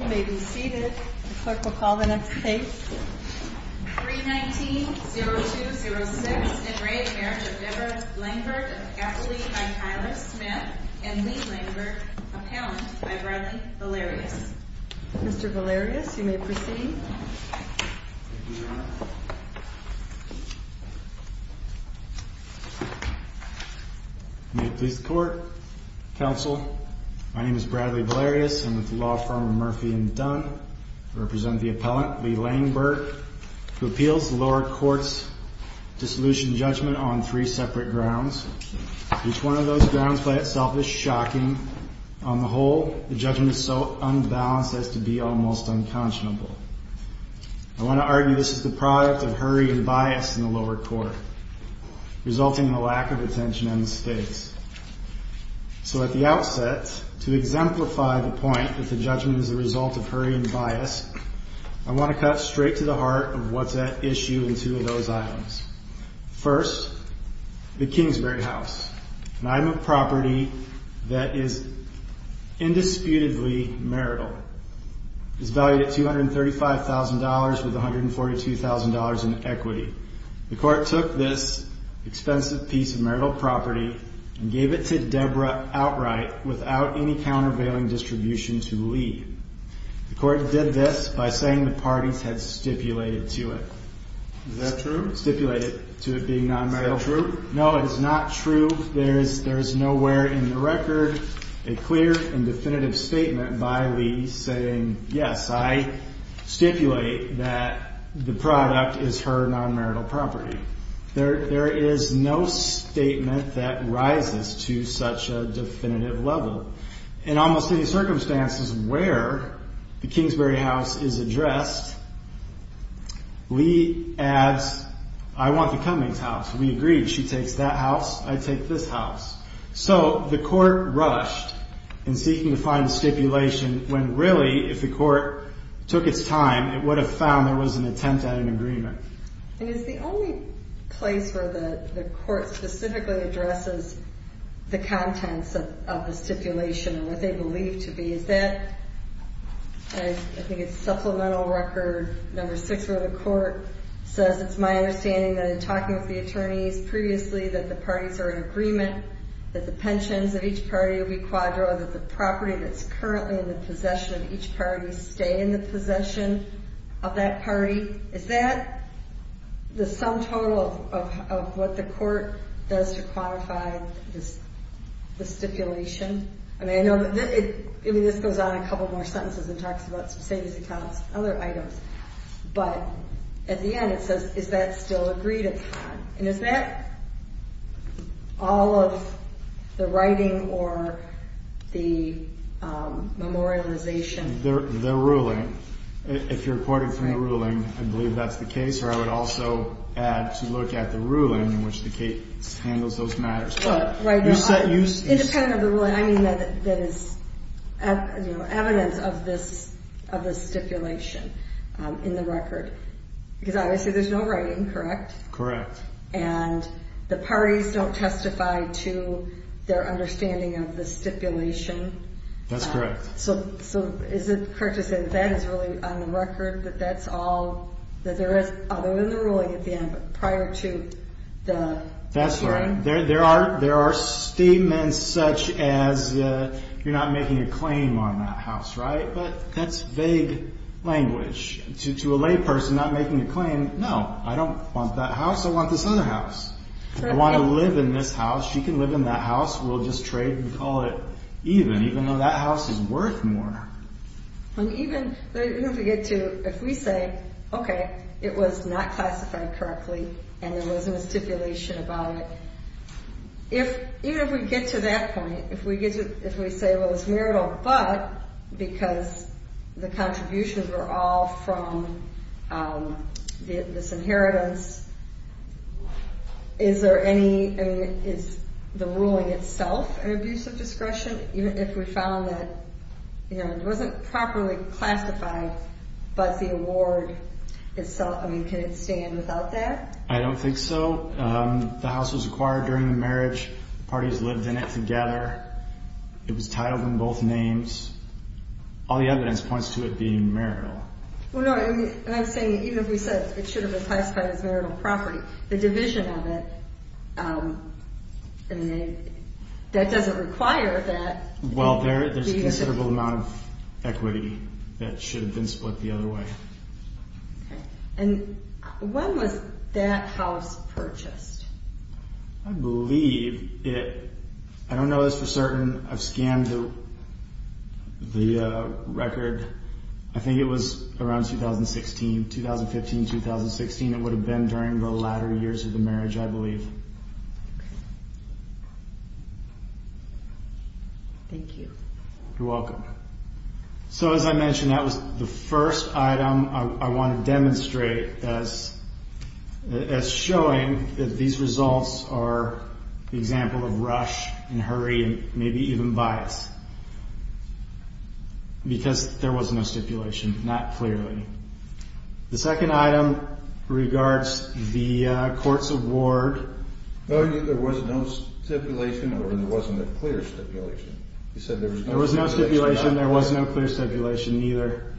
You may be seated. The clerk will call the next case. 319-0206 Enraged Marriage of Deborah Langeberg of Gatli by Tyler Smith and Lee Langeberg, Appellant by Bradley Valerius. Mr. Valerius, you may proceed. May it please the court, counsel. My name is Bradley Valerius. I'm with the law firm Murphy & Dunn. I represent the appellant, Lee Langeberg, who appeals the lower court's dissolution judgment on three separate grounds. Each one of those grounds by itself is shocking. On the whole, the judgment is so unbalanced as to be almost unconscionable. I want to argue this is the product of hurry and bias in the lower court, resulting in a lack of attention on the stakes. So at the outset, to exemplify the point that the judgment is the result of hurry and bias, I want to cut straight to the heart of what's at issue in two of those items. First, the Kingsbury House, an item of property that is indisputably marital. It's valued at $235,000 with $142,000 in equity. The court took this expensive piece of marital property and gave it to Deborah outright without any countervailing distribution to Lee. The court did this by saying the parties had stipulated to it. Is that true? Stipulated to it being non-marital. Is that true? No, it is not true. There is nowhere in the record a clear and definitive statement by Lee saying, yes, I stipulate that the product is her non-marital property. There is no statement that rises to such a definitive level. In almost any circumstances where the Kingsbury House is addressed, Lee adds, I want the Cummings House. We agreed. She takes that house. I take this house. So the court rushed in seeking to find a stipulation when really, if the court took its time, it would have found there was an attempt at an agreement. And is the only place where the court specifically addresses the contents of the stipulation or what they believe to be? Is that, I think it's supplemental record number six where the court says, it's my understanding that in talking with the attorneys previously that the parties are in agreement, that the pensions of each party will be quadro, that the property that's currently in the possession of each party stay in the possession of that party. Is that the sum total of what the court does to quantify the stipulation? I mean, this goes on a couple more sentences and talks about savings accounts and other items. But at the end it says, is that still agreed upon? And is that all of the writing or the memorialization? The ruling, if you're reporting from the ruling, I believe that's the case. Or I would also add to look at the ruling in which the case handles those matters. Independent of the ruling, I mean, that is evidence of this stipulation in the record. Because obviously there's no writing, correct? Correct. And the parties don't testify to their understanding of the stipulation. That's correct. So is it correct to say that that is really on the record, that that's all, that there is, other than the ruling at the end, prior to the hearing? That's right. There are statements such as you're not making a claim on that house, right? But that's vague language. To a layperson not making a claim, no, I don't want that house. I want this other house. I want to live in this house. She can live in that house. We'll just trade and call it even, even though that house is worth more. Even if we get to, if we say, okay, it was not classified correctly and there wasn't a stipulation about it. Even if we get to that point, if we say, well, it's marital, but because the contributions are all from this inheritance, is there any, I mean, is the ruling itself an abuse of discretion? Even if we found that it wasn't properly classified, but the award itself, I mean, can it stand without that? I don't think so. The house was acquired during the marriage. The parties lived in it together. It was titled in both names. All the evidence points to it being marital. Well, no, and I'm saying even if we said it should have been classified as marital property, the division of it, I mean, that doesn't require that. Well, there's a considerable amount of equity that should have been split the other way. And when was that house purchased? I believe it, I don't know this for certain. I've scanned the record. I think it was around 2016, 2015, 2016. It would have been during the latter years of the marriage, I believe. Thank you. You're welcome. So as I mentioned, that was the first item I want to demonstrate as showing that these results are an example of rush and hurry and maybe even bias, because there was no stipulation, not clearly. The second item regards the court's award. There was no stipulation or there wasn't a clear stipulation. There was no stipulation. There was no clear stipulation either.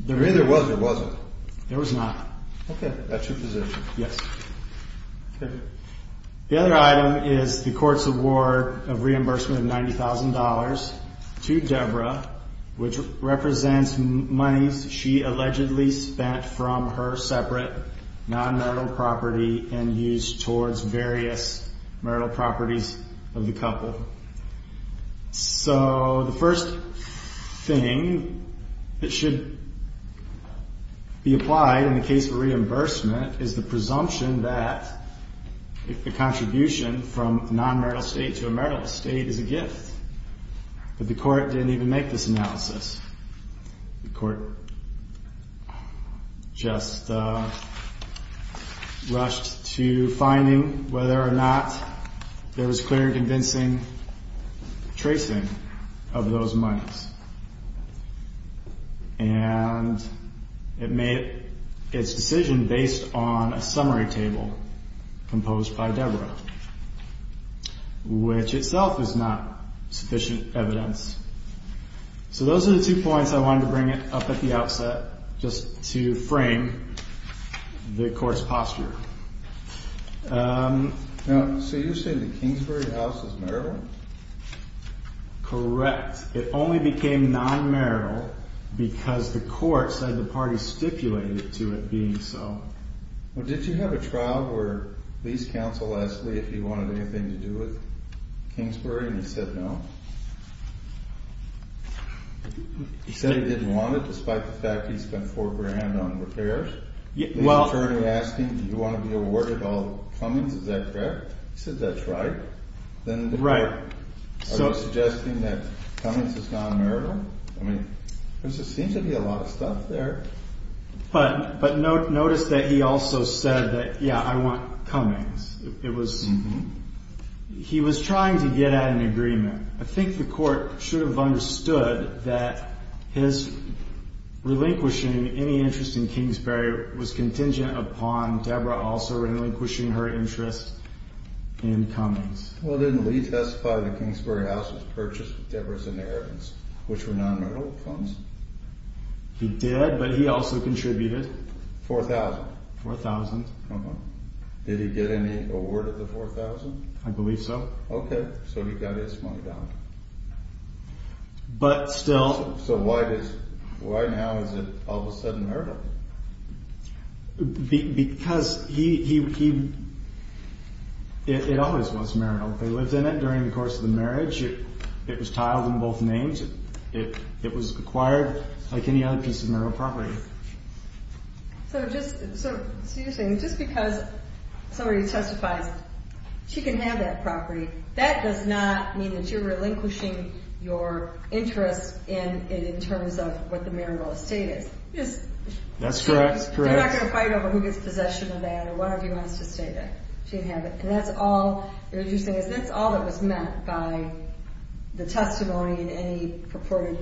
There either was or wasn't. There was not. Okay. That's your position. Yes. Okay. The other item is the court's award of reimbursement of $90,000 to Deborah, which represents monies she allegedly spent from her separate non-marital property and used towards various marital properties of the couple. So the first thing that should be applied in the case of reimbursement is the presumption that the contribution from a non-marital estate to a marital estate is a gift. But the court didn't even make this analysis. The court just rushed to finding whether or not there was clear and convincing tracing of those monies. And it made its decision based on a summary table composed by Deborah, which itself is not sufficient evidence. So those are the two points I wanted to bring up at the outset just to frame the court's posture. So you're saying the Kingsbury house is marital? Correct. It only became non-marital because the court said the party stipulated to it being so. Did you have a trial where the lease counsel asked Lee if he wanted anything to do with Kingsbury and he said no? He said he didn't want it despite the fact he spent $4,000 on repairs? The attorney asked him, do you want to be awarded all the Cummings? Is that correct? He said that's right. Right. Are you suggesting that Cummings is non-marital? I mean, there seems to be a lot of stuff there. But notice that he also said that, yeah, I want Cummings. He was trying to get at an agreement. I think the court should have understood that his relinquishing any interest in Kingsbury was contingent upon Deborah also relinquishing her interest in Cummings. Well, didn't Lee testify that the Kingsbury house was purchased with Deborah's inheritance, which were non-marital funds? He did, but he also contributed. $4,000? $4,000. Did he get any award of the $4,000? I believe so. Okay, so he got his money back. But still... So why now is it all of a sudden marital? Because it always was marital. They lived in it during the course of the marriage. It was tiled in both names. It was acquired like any other piece of marital property. So you're saying just because somebody testifies she can have that property, that does not mean that you're relinquishing your interest in it in terms of what the marital estate is. That's correct. They're not going to fight over who gets possession of that or whatever you want us to say that she can have it. And that's all, what you're saying is that's all that was meant by the testimony and any purported,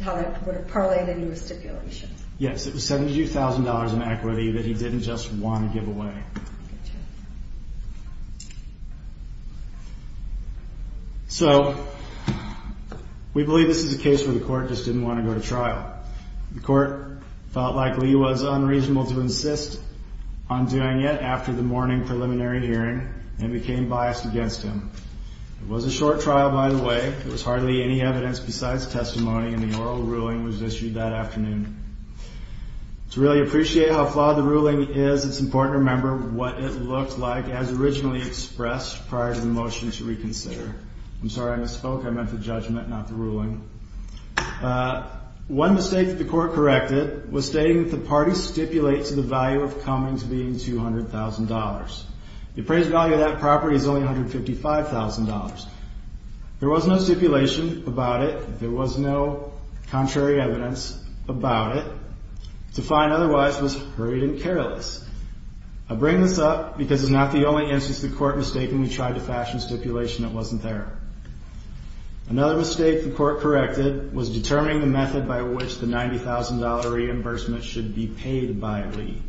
how that would have parlayed into a stipulation. Yes, it was $72,000 in equity that he didn't just want to give away. So, we believe this is a case where the court just didn't want to go to trial. The court felt like Lee was unreasonable to insist on doing it after the morning preliminary hearing and became biased against him. It was a short trial by the way. There was hardly any evidence besides testimony and the oral ruling was issued that afternoon. To really appreciate how flawed the ruling is, it's important to remember what it looked like as originally expressed prior to the motion to reconsider. I'm sorry, I misspoke. I meant the judgment, not the ruling. One mistake that the court corrected was stating that the parties stipulate to the value of Cummings being $200,000. The appraised value of that property is only $155,000. There was no stipulation about it. There was no contrary evidence about it. To find otherwise was great and careless. I bring this up because it's not the only instance the court mistakenly tried to fashion a stipulation that wasn't there. Another mistake the court corrected was determining the method by which the $90,000 reimbursement should be paid by Lee.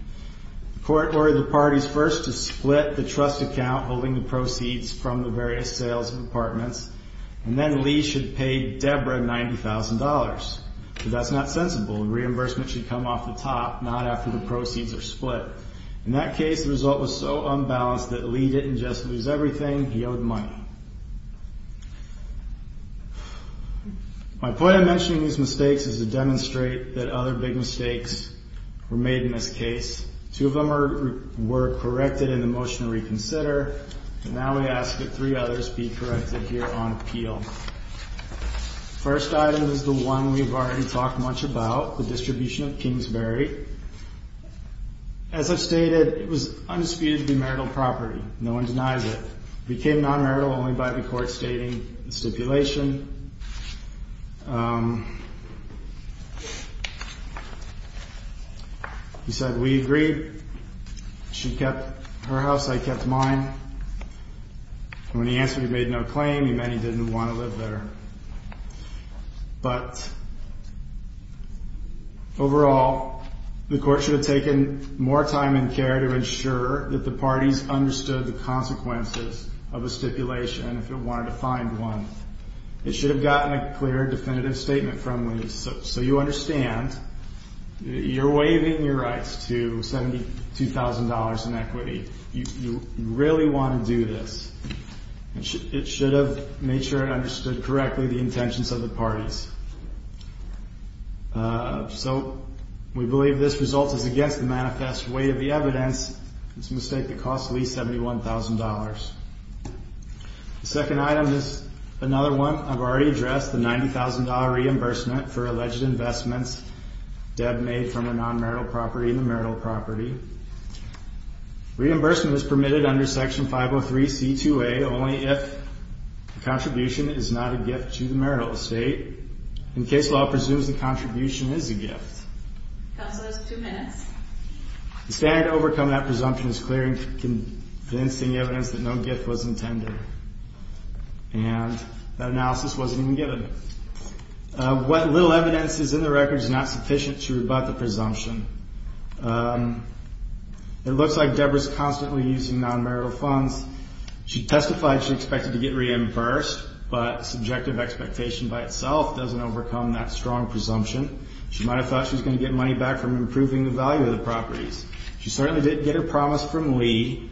The court ordered the parties first to split the trust account holding the proceeds from the various sales of apartments, and then Lee should pay Deborah $90,000. That's not sensible. Reimbursement should come off the top, not after the proceeds are split. In that case, the result was so unbalanced that Lee didn't just lose everything, he owed money. My point in mentioning these mistakes is to demonstrate that other big mistakes were made in this case. Two of them were corrected in the motion to reconsider, and now we ask that three others be corrected here on appeal. The first item is the one we've already talked much about, the distribution of Kingsbury. As I've stated, it was undisputed to be marital property. No one denies it. It became non-marital only by the court stating the stipulation. He said, we agreed. She kept her house, I kept mine. When he answered, he made no claim. He meant he didn't want to live there. But overall, the court should have taken more time and care to ensure that the parties understood the consequences of a stipulation if it wanted to find one. It should have gotten a clear, definitive statement from Lee. So you understand, you're waiving your rights to $72,000 in equity. You really want to do this. It should have made sure it understood correctly the intentions of the parties. So we believe this result is against the manifest weight of the evidence. It's a mistake that cost Lee $71,000. The second item is another one I've already addressed, the $90,000 reimbursement for alleged investments Deb made from a non-marital property in the marital property. Reimbursement is permitted under Section 503C2A only if the contribution is not a gift to the marital estate. In case law, it presumes the contribution is a gift. The standard to overcome that presumption is clear and convincing evidence that no gift was intended. And that analysis wasn't even given. What little evidence is in the record is not sufficient to rebut the presumption. It looks like Deb was constantly using non-marital funds. She testified she expected to get reimbursed, but subjective expectation by itself doesn't overcome that strong presumption. She might have thought she was going to get money back from improving the value of the properties. She certainly didn't get her promise from Lee.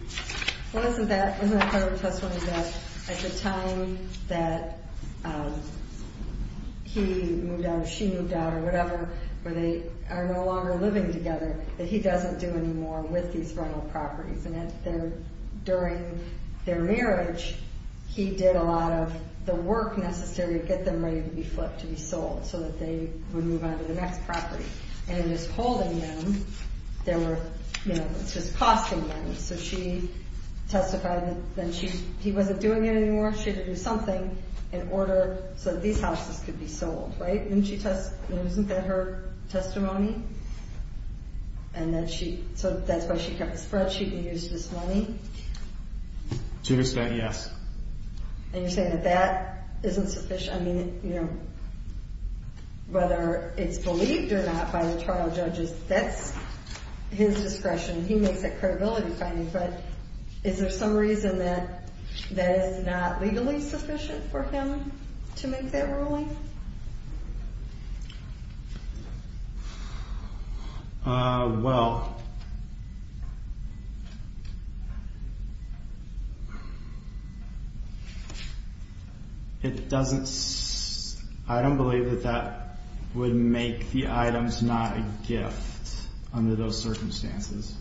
Well, isn't that part of the testimony that at the time that he moved out or she moved out or whatever, where they are no longer living together, that he doesn't do any more with these rental properties. And during their marriage, he did a lot of the work necessary to get them ready to be flipped, to be sold, so that they would move on to the next property. And in just holding them, it's just costing them. So she testified that he wasn't doing it anymore. She had to do something in order so that these houses could be sold. Isn't that her testimony? So that's why she kept the spreadsheet and used this money? To this day, yes. And you're saying that that isn't sufficient? I mean, you know, whether it's believed or not by the trial judges, that's his discretion. He makes that credibility finding, but is there some reason that that is not legally sufficient for him to make that ruling? Well, it doesn't, I don't believe that that would make the items not a gift under those circumstances.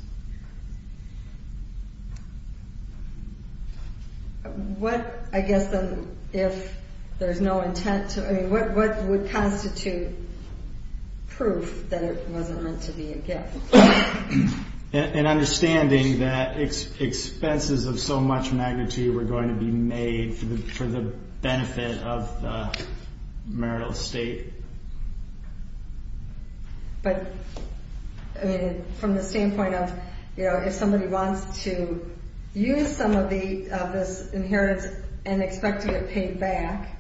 What, I guess, if there's no intent to, I mean, what would constitute proof that it wasn't meant to be a gift? An understanding that expenses of so much magnitude were going to be made for the benefit of the marital estate. But, I mean, from the standpoint of, you know, if somebody wants to use some of this inheritance and expect to get paid back,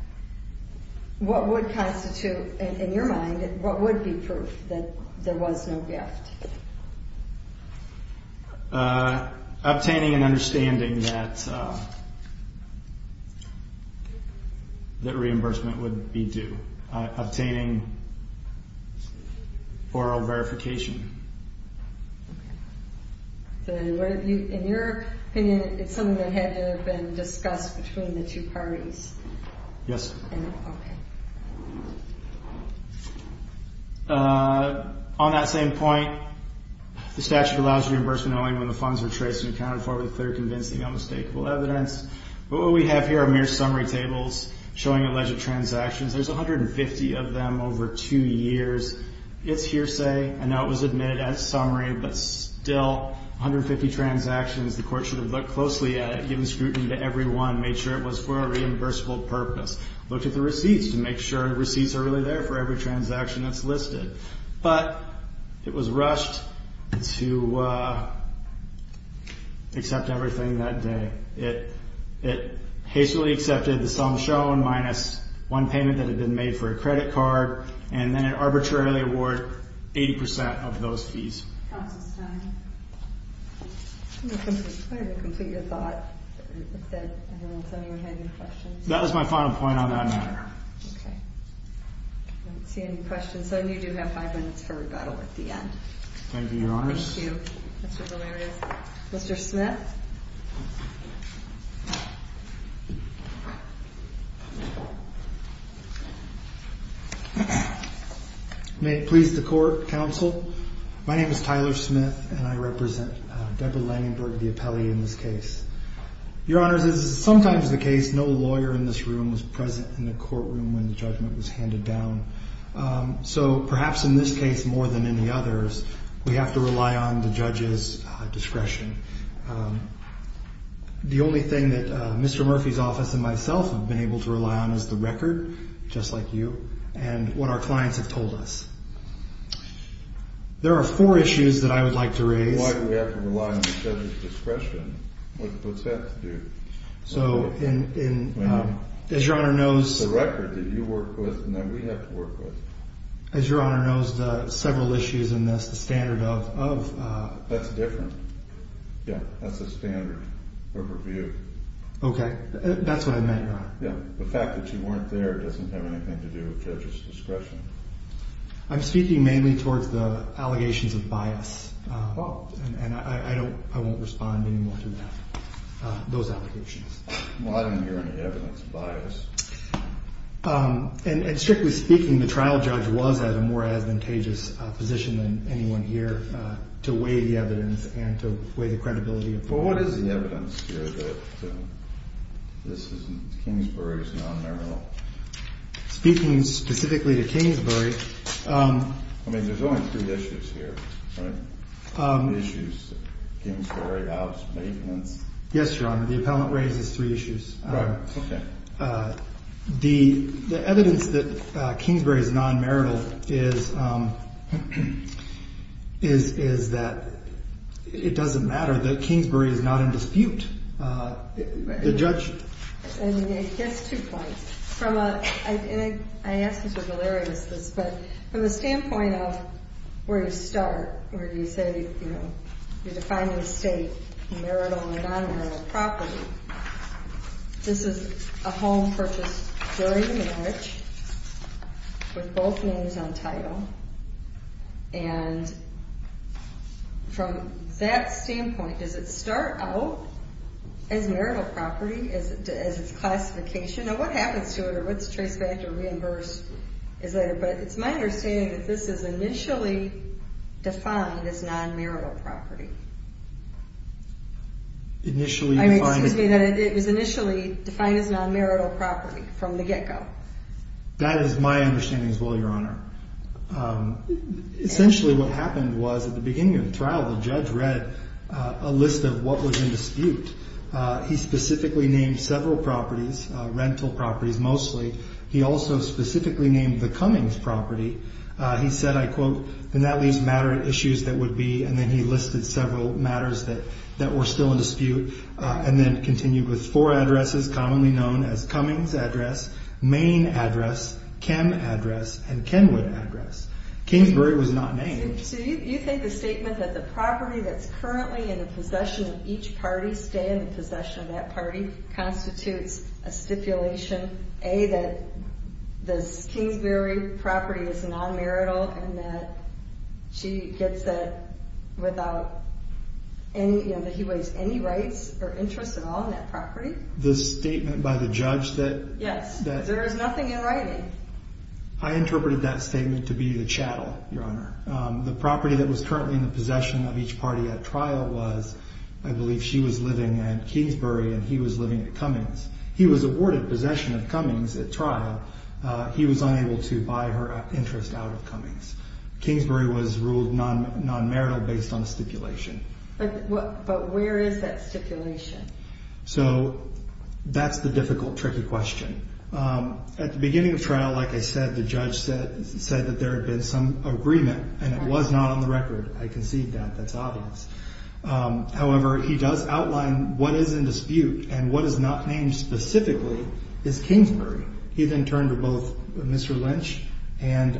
what would constitute, in your mind, what would be proof that there was no gift? Obtaining an understanding that reimbursement would be due. Obtaining oral verification. So, in your opinion, it's something that had to have been discussed between the two parties? Yes. On that same point, the statute allows reimbursement only when the funds are traced and accounted for with clear, convincing, unmistakable evidence. What we have here are mere summary tables showing alleged transactions. There's 150 of them over two years. It's hearsay. I know it was admitted as summary, but still, 150 transactions. The court should have looked closely at it, given scrutiny to every one, made sure it was for a reimbursable purpose. Looked at the receipts to make sure receipts are really there for every transaction that's listed. But, it was rushed to accept everything that day. It hastily accepted the sum shown, minus one payment that had been made for a credit card, and then it arbitrarily award 80% of those fees. Counsel's time. I'm going to try to complete your thought. I don't know if anyone had any questions. That was my final point on that matter. Okay. I don't see any questions, so you do have five minutes for rebuttal at the end. Thank you, Your Honors. Thank you, Mr. Valerius. Mr. Smith. May it please the court, counsel. My name is Tyler Smith, and I represent Deborah Langenberg, the appellee in this case. Your Honors, as is sometimes the case, no lawyer in this room was present in the courtroom when the judgment was handed down. So, perhaps in this case more than any others, we have to rely on the judge's discretion. The only thing that Mr. Murphy's office and myself have been able to rely on is the record, just like you, and what our clients have told us. There are four issues that I would like to raise. Why do we have to rely on the judge's discretion? What's that to do? So, as Your Honor knows... As Your Honor knows, the several issues in this, the standard of... That's different. Yeah, that's the standard of review. Okay, that's what I meant, Your Honor. Yeah, the fact that you weren't there doesn't have anything to do with judge's discretion. I'm speaking mainly towards the allegations of bias, and I won't respond anymore to those allegations. Well, I didn't hear any evidence of bias. And strictly speaking, the trial judge was at a more advantageous position than anyone here to weigh the evidence and to weigh the credibility of... Well, what is the evidence here that Kingsbury is non-memorable? Speaking specifically to Kingsbury... I mean, there's only three issues here, right? Issues, Kingsbury, house, maintenance. Yes, Your Honor, the appellant raises three issues. Right, okay. The evidence that Kingsbury is non-merital is that it doesn't matter that Kingsbury is not in dispute. The judge... I mean, I guess two points. And I ask this, you're hilarious, but from the standpoint of where you start, where you say, you know, you're defining the state, marital or non-marital property, this is a home purchased during the marriage with both names on title. And from that standpoint, does it start out as marital property, as its classification? Now, what happens to it, or what's traced back or reimbursed? But it's my understanding that this is initially defined as non-marital property. Initially defined... I mean, excuse me, that it was initially defined as non-marital property from the get-go. That is my understanding as well, Your Honor. Essentially, what happened was, at the beginning of the trial, the judge read a list of what was in dispute. He specifically named several properties, rental properties mostly. He also specifically named the Cummings property. He said, I quote, and that leaves matter issues that would be... And then he listed several matters that were still in dispute. And then continued with four addresses commonly known as Cummings address, Main address, Chem address, and Kenwood address. Kingsbury was not named. So you think the statement that the property that's currently in the possession of each party, stay in the possession of that party, constitutes a stipulation, A, that this Kingsbury property is non-marital, and that she gets it without any, you know, that he wastes any rights or interest at all in that property? The statement by the judge that... Yes, that there is nothing in writing. I interpreted that statement to be the chattel, Your Honor. The property that was currently in the possession of each party at trial was, I believe she was living at Kingsbury and he was living at Cummings. He was awarded possession of Cummings at trial. He was unable to buy her interest out of Cummings. Kingsbury was ruled non-marital based on stipulation. But where is that stipulation? So that's the difficult, tricky question. At the beginning of trial, like I said, the judge said that there had been some agreement and it was not on the record. I concede that. That's obvious. However, he does outline what is in dispute and what is not named specifically is Kingsbury. He then turned to both Mr. Lynch and...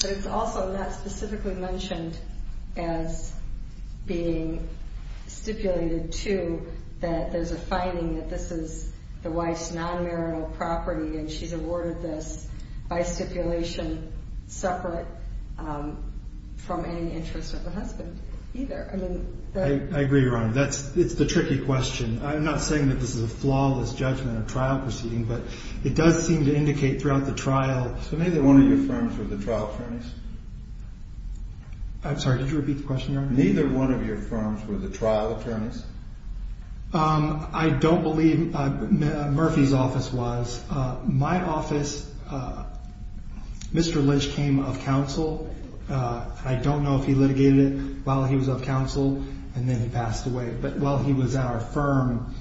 But it's also not specifically mentioned as being stipulated, too, that there's a finding that this is the wife's non-marital property and she's awarded this by stipulation separate from any interest of the husband either. I mean... I agree, Your Honor. It's the tricky question. I'm not saying that this is a flawless judgment of trial proceeding, but it does seem to indicate throughout the trial... So neither one of your firms were the trial attorneys? I'm sorry, did you repeat the question, Your Honor? Neither one of your firms were the trial attorneys? I don't believe Murphy's office was. My office, Mr. Lynch came of counsel. I don't know if he litigated it while he was of counsel and then he passed away. But while he was at our firm,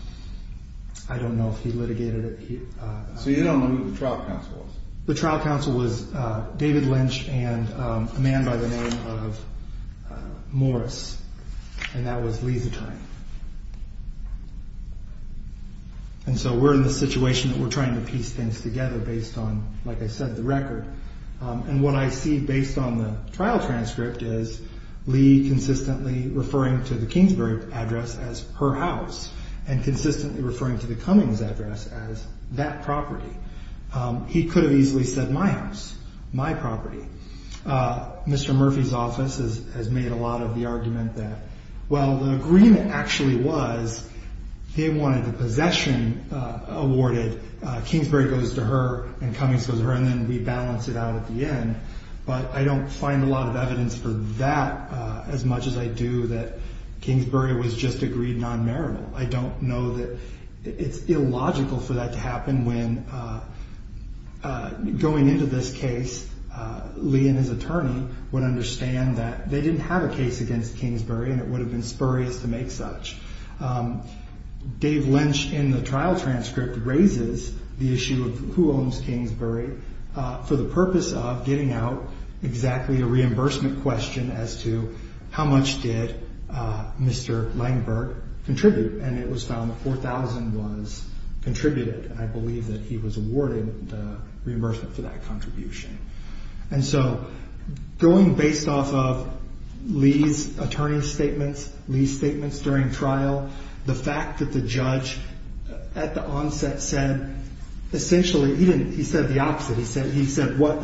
I don't know if he litigated it. So you don't know who the trial counsel was? The trial counsel was David Lynch and a man by the name of Morris. And that was Lee Zetine. And so we're in the situation that we're trying to piece things together based on, like I said, the record. And what I see based on the trial transcript is Lee consistently referring to the Kingsbury address as her house. And consistently referring to the Cummings address as that property. He could have easily said my house, my property. Mr. Murphy's office has made a lot of the argument that, well, the agreement actually was they wanted the possession awarded. That Kingsbury goes to her and Cummings goes to her and then we balance it out at the end. But I don't find a lot of evidence for that as much as I do that Kingsbury was just agreed non-marital. I don't know that it's illogical for that to happen when going into this case, Lee and his attorney would understand that they didn't have a case against Kingsbury and it would have been spurious to make such. Dave Lynch in the trial transcript raises the issue of who owns Kingsbury for the purpose of getting out exactly a reimbursement question as to how much did Mr. Langberg contribute. And it was found 4,000 was contributed. I believe that he was awarded the reimbursement for that contribution. And so going based off of Lee's attorney statements, Lee's statements during trial, the fact that the judge at the onset said essentially he didn't. He said the opposite. He said he said what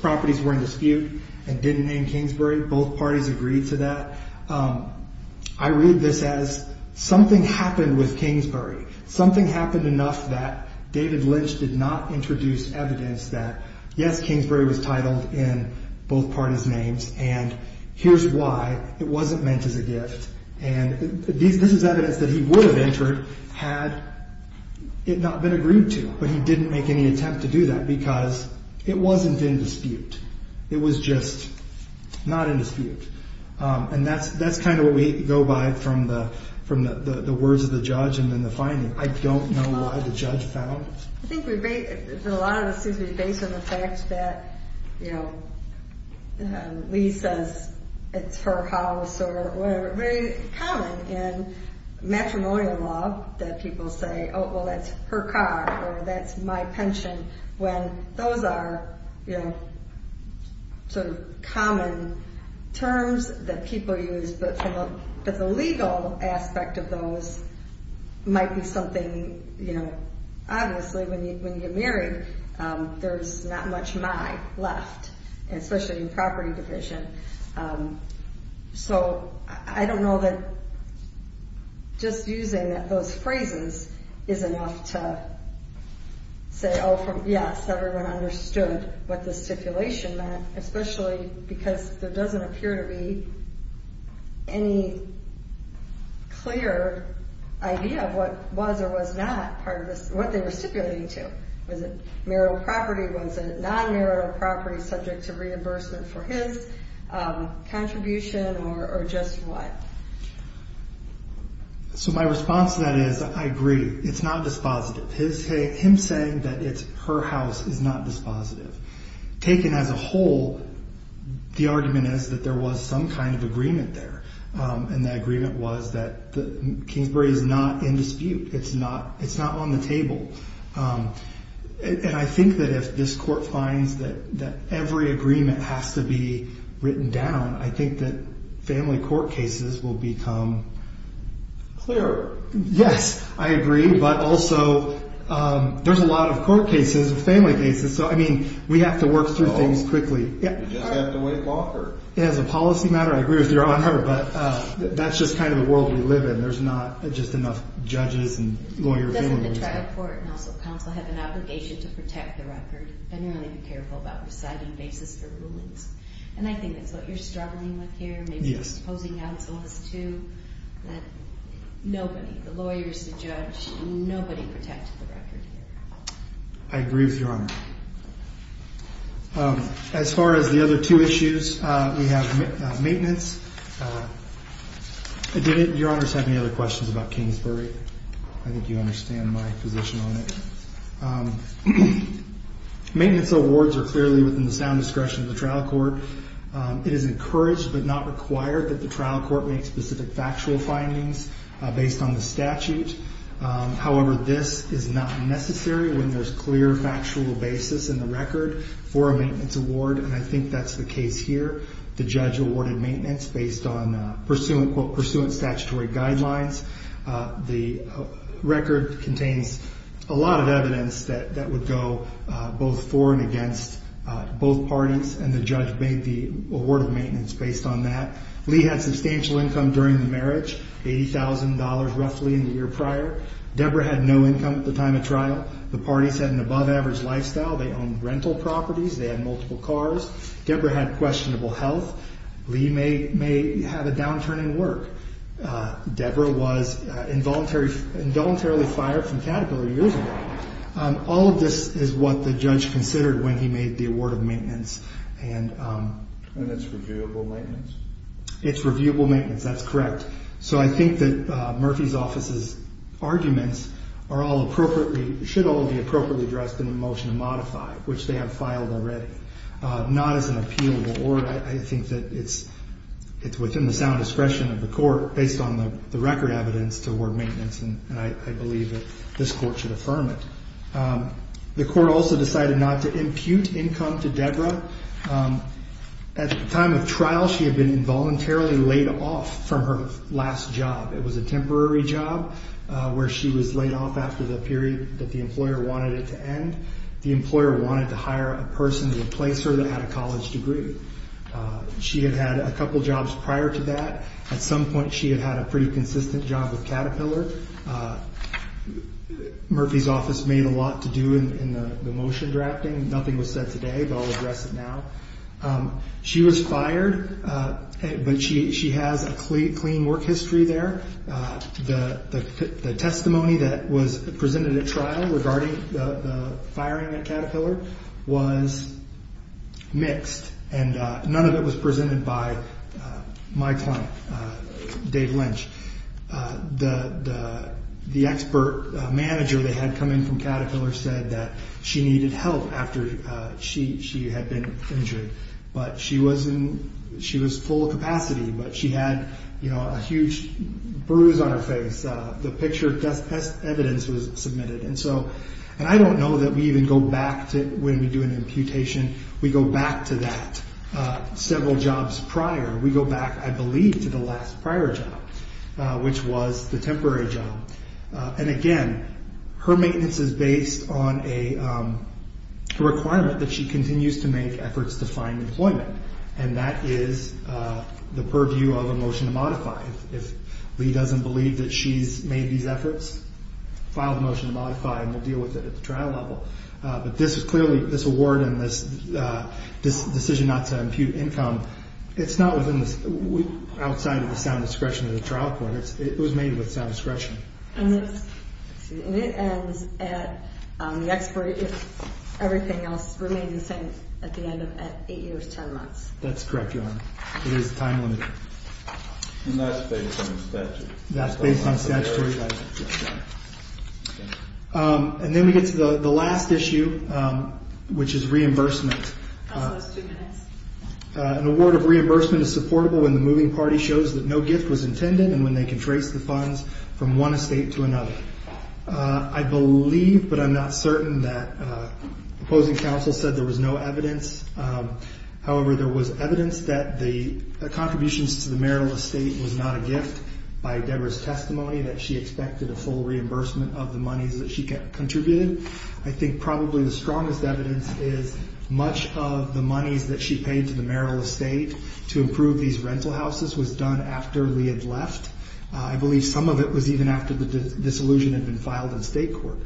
properties were in dispute and didn't name Kingsbury. Both parties agreed to that. I read this as something happened with Kingsbury. Something happened enough that David Lynch did not introduce evidence that yes, Kingsbury was titled in both parties names. And here's why it wasn't meant as a gift. And this is evidence that he would have entered had it not been agreed to. But he didn't make any attempt to do that because it wasn't in dispute. It was just not in dispute. And that's kind of what we go by from the words of the judge and then the finding. I don't know why the judge found. I think a lot of this seems to be based on the fact that, you know, Lee says it's her house or whatever. It's very common in matrimonial law that people say, oh, well, that's her car or that's my pension. When those are, you know, sort of common terms that people use. But the legal aspect of those might be something, you know, obviously when you get married, there's not much my left, especially in property division. So I don't know that just using those phrases is enough to say, oh, yes, everyone understood what the stipulation meant. Especially because there doesn't appear to be any clear idea of what was or was not part of this, what they were stipulating to. Was it marital property? Was it non-marital property subject to reimbursement for his contribution or just what? So my response to that is I agree. It's not dispositive. Him saying that it's her house is not dispositive. Taken as a whole, the argument is that there was some kind of agreement there. And that agreement was that Kingsbury is not in dispute. It's not it's not on the table. And I think that if this court finds that every agreement has to be written down, I think that family court cases will become clear. Yes, I agree. But also there's a lot of court cases, family cases. So, I mean, we have to work through things quickly. As a policy matter, I agree with your honor, but that's just kind of the world we live in. There's not just enough judges and lawyers. Doesn't the trial court and also counsel have an obligation to protect the record and really be careful about reciting basis for rulings? And I think that's what you're struggling with here. Yes, opposing counsel is to that. Nobody, the lawyers, the judge, nobody protected the record here. I agree with your honor. As far as the other two issues, we have maintenance. Your honors have any other questions about Kingsbury? I think you understand my position on it. Maintenance awards are clearly within the sound discretion of the trial court. It is encouraged but not required that the trial court make specific factual findings based on the statute. However, this is not necessary when there's clear factual basis in the record for a maintenance award. And I think that's the case here. The judge awarded maintenance based on pursuant, quote, pursuant statutory guidelines. The record contains a lot of evidence that would go both for and against both parties. And the judge made the award of maintenance based on that. Lee had substantial income during the marriage, $80,000 roughly in the year prior. Deborah had no income at the time of trial. The parties had an above average lifestyle. They owned rental properties. They had multiple cars. Deborah had questionable health. Lee may have a downturn in work. Deborah was involuntarily fired from Caterpillar years ago. All of this is what the judge considered when he made the award of maintenance. And it's reviewable maintenance? It's reviewable maintenance. That's correct. So I think that Murphy's office's arguments are all appropriately, should all be appropriately addressed in the motion to modify, which they have filed already. Not as an appealable award. I think that it's within the sound expression of the court based on the record evidence to award maintenance. And I believe that this court should affirm it. The court also decided not to impute income to Deborah. At the time of trial, she had been involuntarily laid off from her last job. It was a temporary job where she was laid off after the period that the employer wanted it to end. The employer wanted to hire a person to replace her that had a college degree. She had had a couple jobs prior to that. At some point, she had had a pretty consistent job with Caterpillar. Murphy's office made a lot to do in the motion drafting. Nothing was said today, but I'll address it now. She was fired, but she has a clean work history there. The testimony that was presented at trial regarding the firing at Caterpillar was mixed. And none of it was presented by my client, Dave Lynch. The expert manager that had come in from Caterpillar said that she needed help after she had been injured. She was in full capacity, but she had a huge bruise on her face. The picture test evidence was submitted. I don't know that we even go back to when we do an imputation. We go back to that several jobs prior. We go back, I believe, to the last prior job, which was the temporary job. Again, her maintenance is based on a requirement that she continues to make efforts to find employment. That is the purview of a motion to modify. If Lee doesn't believe that she's made these efforts, file a motion to modify and we'll deal with it at the trial level. This award and this decision not to impute income, it's not outside of the sound discretion of the trial court. It was made with sound discretion. And it ends at the expert, if everything else remains the same, at the end of eight years, ten months. That's correct, Your Honor. It is time limited. And that's based on the statute. That's based on statutory rights. And then we get to the last issue, which is reimbursement. Also, it's two minutes. An award of reimbursement is supportable when the moving party shows that no gift was intended and when they can trace the funds from one estate to another. I believe, but I'm not certain, that opposing counsel said there was no evidence. However, there was evidence that the contributions to the marital estate was not a gift by Deborah's testimony, that she expected a full reimbursement of the monies that she contributed. I think probably the strongest evidence is much of the monies that she paid to the marital estate to improve these rental houses was done after Lee had left. I believe some of it was even after the dissolution had been filed in state court.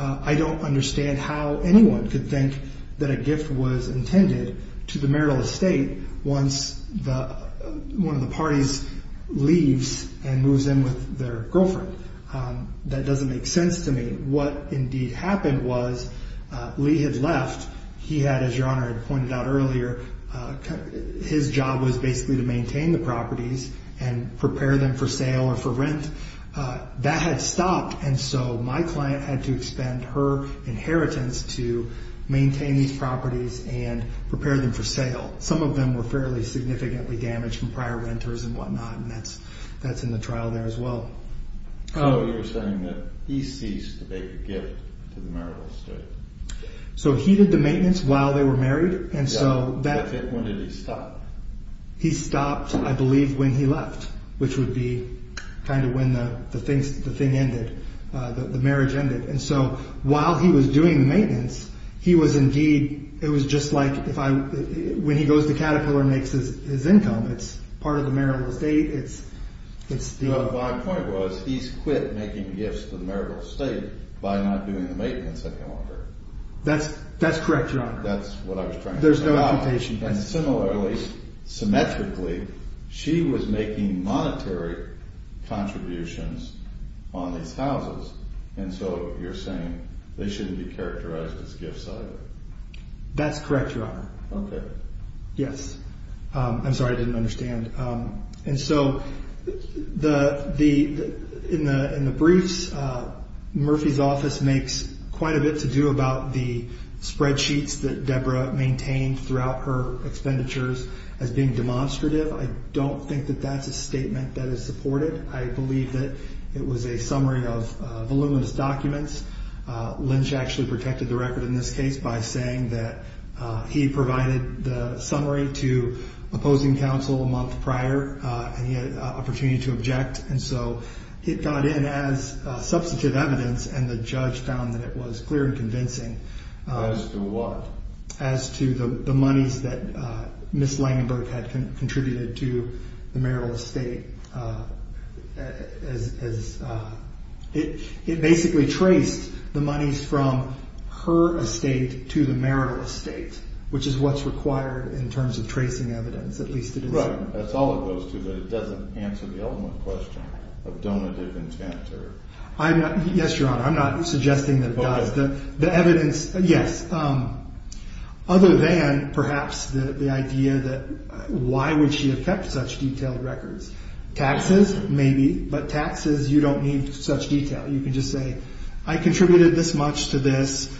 I don't understand how anyone could think that a gift was intended to the marital estate once one of the parties leaves and moves in with their girlfriend. That doesn't make sense to me. What indeed happened was Lee had left. He had, as Your Honor had pointed out earlier, his job was basically to maintain the properties and prepare them for sale or for rent. That had stopped, and so my client had to expend her inheritance to maintain these properties and prepare them for sale. Some of them were fairly significantly damaged from prior renters and whatnot, and that's in the trial there as well. So you're saying that he ceased to make a gift to the marital estate. He did the maintenance while they were married. When did he stop? He stopped, I believe, when he left, which would be kind of when the marriage ended. While he was doing the maintenance, it was just like when he goes to Caterpillar and makes his income. It's part of the marital estate. My point was he's quit making gifts to the marital estate by not doing the maintenance any longer. That's correct, Your Honor. That's what I was trying to say. Similarly, symmetrically, she was making monetary contributions on these houses, and so you're saying they shouldn't be characterized as gifts either. That's correct, Your Honor. Okay. Yes. I'm sorry, I didn't understand. And so in the briefs, Murphy's office makes quite a bit to do about the spreadsheets that Deborah maintained throughout her expenditures as being demonstrative. I don't think that that's a statement that is supported. I believe that it was a summary of voluminous documents. Lynch actually protected the record in this case by saying that he provided the summary to opposing counsel a month prior, and he had an opportunity to object. And so it got in as substantive evidence, and the judge found that it was clear and convincing. As to what? As to the monies that Ms. Langenberg had contributed to the marital estate. It basically traced the monies from her estate to the marital estate, which is what's required in terms of tracing evidence, at least it is. That's all it goes to, but it doesn't answer the ultimate question of donative intent. Yes, Your Honor, I'm not suggesting that it does. The evidence, yes. Other than, perhaps, the idea that why would she have kept such detailed records? Taxes, maybe, but taxes, you don't need such detail. You can just say, I contributed this much to this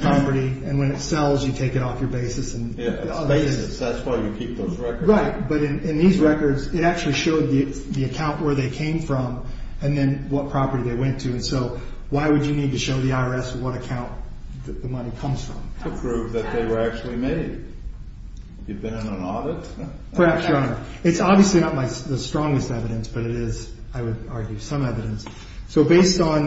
property, and when it sells, you take it off your basis. Yeah, it's basis, that's why you keep those records. Right, but in these records, it actually showed the account where they came from, and then what property they went to. So, why would you need to show the IRS what account the money comes from? To prove that they were actually made. You've been in an audit? Perhaps, Your Honor. It's obviously not the strongest evidence, but it is, I would argue, some evidence. So, based on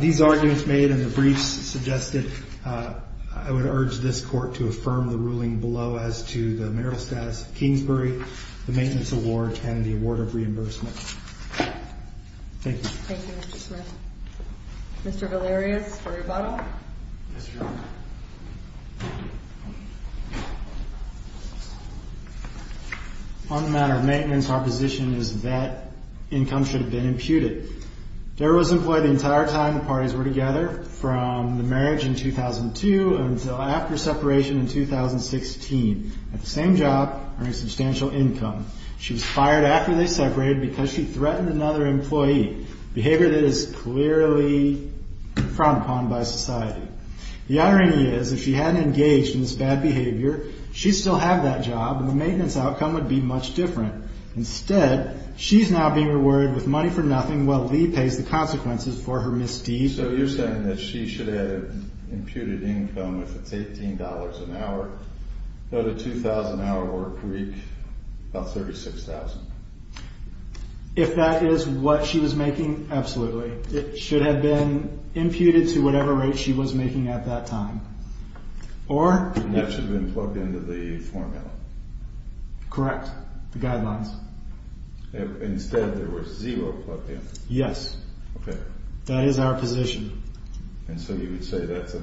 these arguments made and the briefs suggested, I would urge this court to affirm the ruling below as to the marital status of Kingsbury, the maintenance award, and the award of reimbursement. Thank you. Thank you, Mr. Smith. Mr. Valerius for rebuttal. Yes, Your Honor. On the matter of maintenance, our position is that income should have been imputed. Dara was employed the entire time the parties were together, from the marriage in 2002 until after separation in 2016. At the same job, earning substantial income. She was fired after they separated because she threatened another employee, behavior that is clearly frowned upon by society. The irony is, if she hadn't engaged in this bad behavior, she'd still have that job, and the maintenance outcome would be much different. Instead, she's now being rewarded with money for nothing while Lee pays the consequences for her misdeed. So, you're saying that she should have imputed income if it's $18 an hour. Noted $2,000 an hour work week, about $36,000. If that is what she was making, absolutely. It should have been imputed to whatever rate she was making at that time. Or? That should have been plugged into the formula. Correct. The guidelines. Instead, there was zero plugged in. Yes. Okay. That is our position. And so you would say that's a...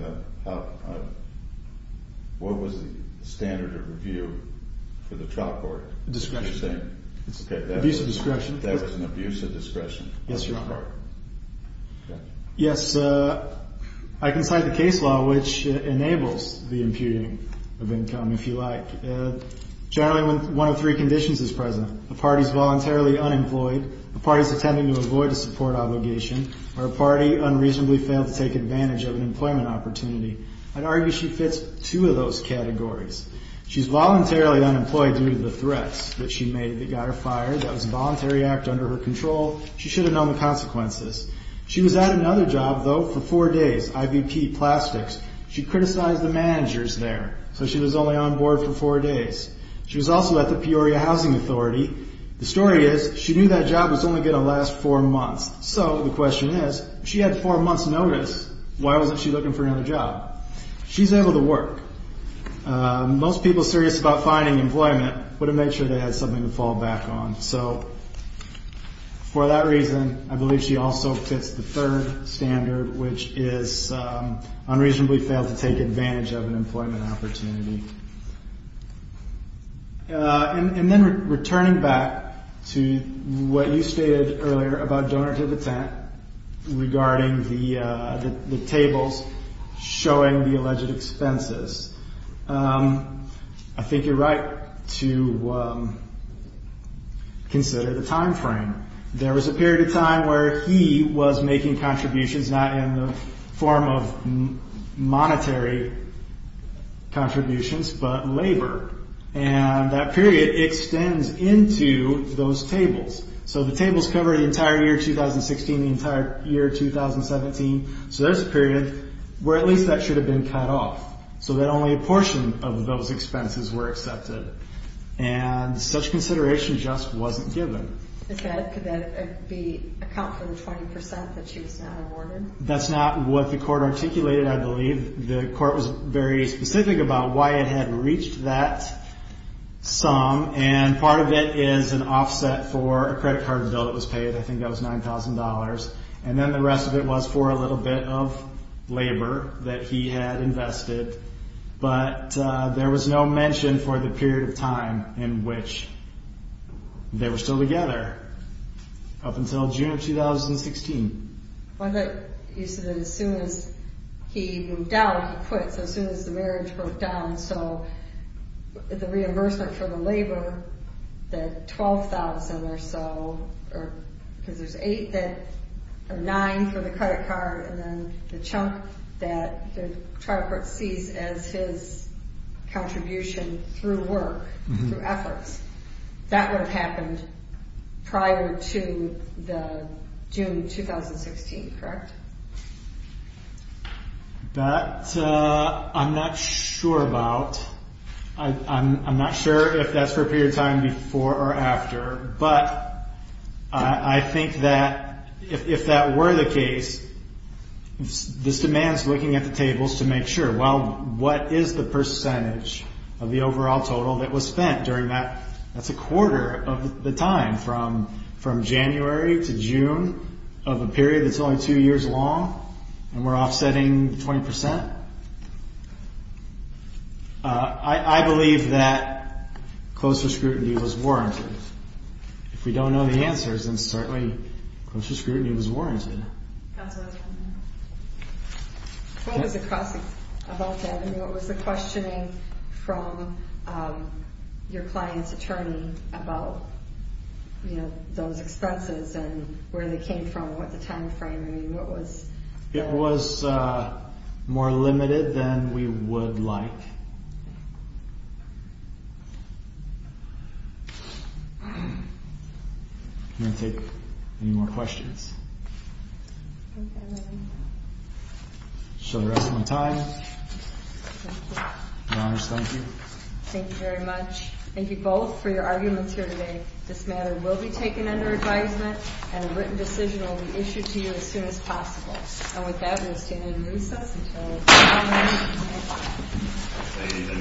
What was the standard of review for the trial court? Discretion. Abuse of discretion. That was an abuse of discretion. Yes, Your Honor. Okay. Yes, I can cite the case law which enables the imputing of income, if you like. Generally, one of three conditions is present. A party's voluntarily unemployed. A party's attempting to avoid a support obligation. Or a party unreasonably failed to take advantage of an employment opportunity. I'd argue she fits two of those categories. She's voluntarily unemployed due to the threats that she made that got her fired. That was a voluntary act under her control. She should have known the consequences. She was at another job, though, for four days. IVP, plastics. She criticized the managers there. So she was only on board for four days. She was also at the Peoria Housing Authority. The story is, she knew that job was only going to last four months. So the question is, she had four months' notice. Why wasn't she looking for another job? She's able to work. Most people serious about finding employment would have made sure they had something to fall back on. So for that reason, I believe she also fits the third standard, which is unreasonably failed to take advantage of an employment opportunity. And then returning back to what you stated earlier about Donor to the Tent, regarding the tables showing the alleged expenses, I think you're right to consider the time frame. There was a period of time where he was making contributions, not in the form of monetary contributions, but labor. And that period extends into those tables. So the tables cover the entire year 2016, the entire year 2017. So there's a period where at least that should have been cut off, so that only a portion of those expenses were accepted. And such consideration just wasn't given. Could that account for the 20% that she was not awarded? That's not what the court articulated, I believe. The court was very specific about why it had reached that sum. And part of it is an offset for a credit card bill that was paid. I think that was $9,000. And then the rest of it was for a little bit of labor that he had invested. But there was no mention for the period of time in which they were still together, up until June of 2016. You said that as soon as he moved out, he quit. So as soon as the marriage broke down. So the reimbursement for the labor, that $12,000 or so, because there's $9,000 for the credit card, and then the chunk that the trial court sees as his contribution through work, through efforts. That would have happened prior to June 2016, correct? That I'm not sure about. I'm not sure if that's for a period of time before or after. But I think that if that were the case, this demands looking at the tables to make sure, well, what is the percentage of the overall total that was spent during that? That's a quarter of the time from January to June, of a period that's only two years long, and we're offsetting 20%. I believe that closer scrutiny was warranted. If we don't know the answers, then certainly closer scrutiny was warranted. Counsel, I have one more. What was the cross-examination about that? What was the questioning from your client's attorney about those expenses and where they came from, what the time frame was? It was more limited than we would like. I'm going to take any more questions. Okay, then. So we're out of time. Your Honor, thank you. Thank you very much. Thank you both for your arguments here today. This matter will be taken under advisement, and a written decision will be issued to you as soon as possible. Thank you.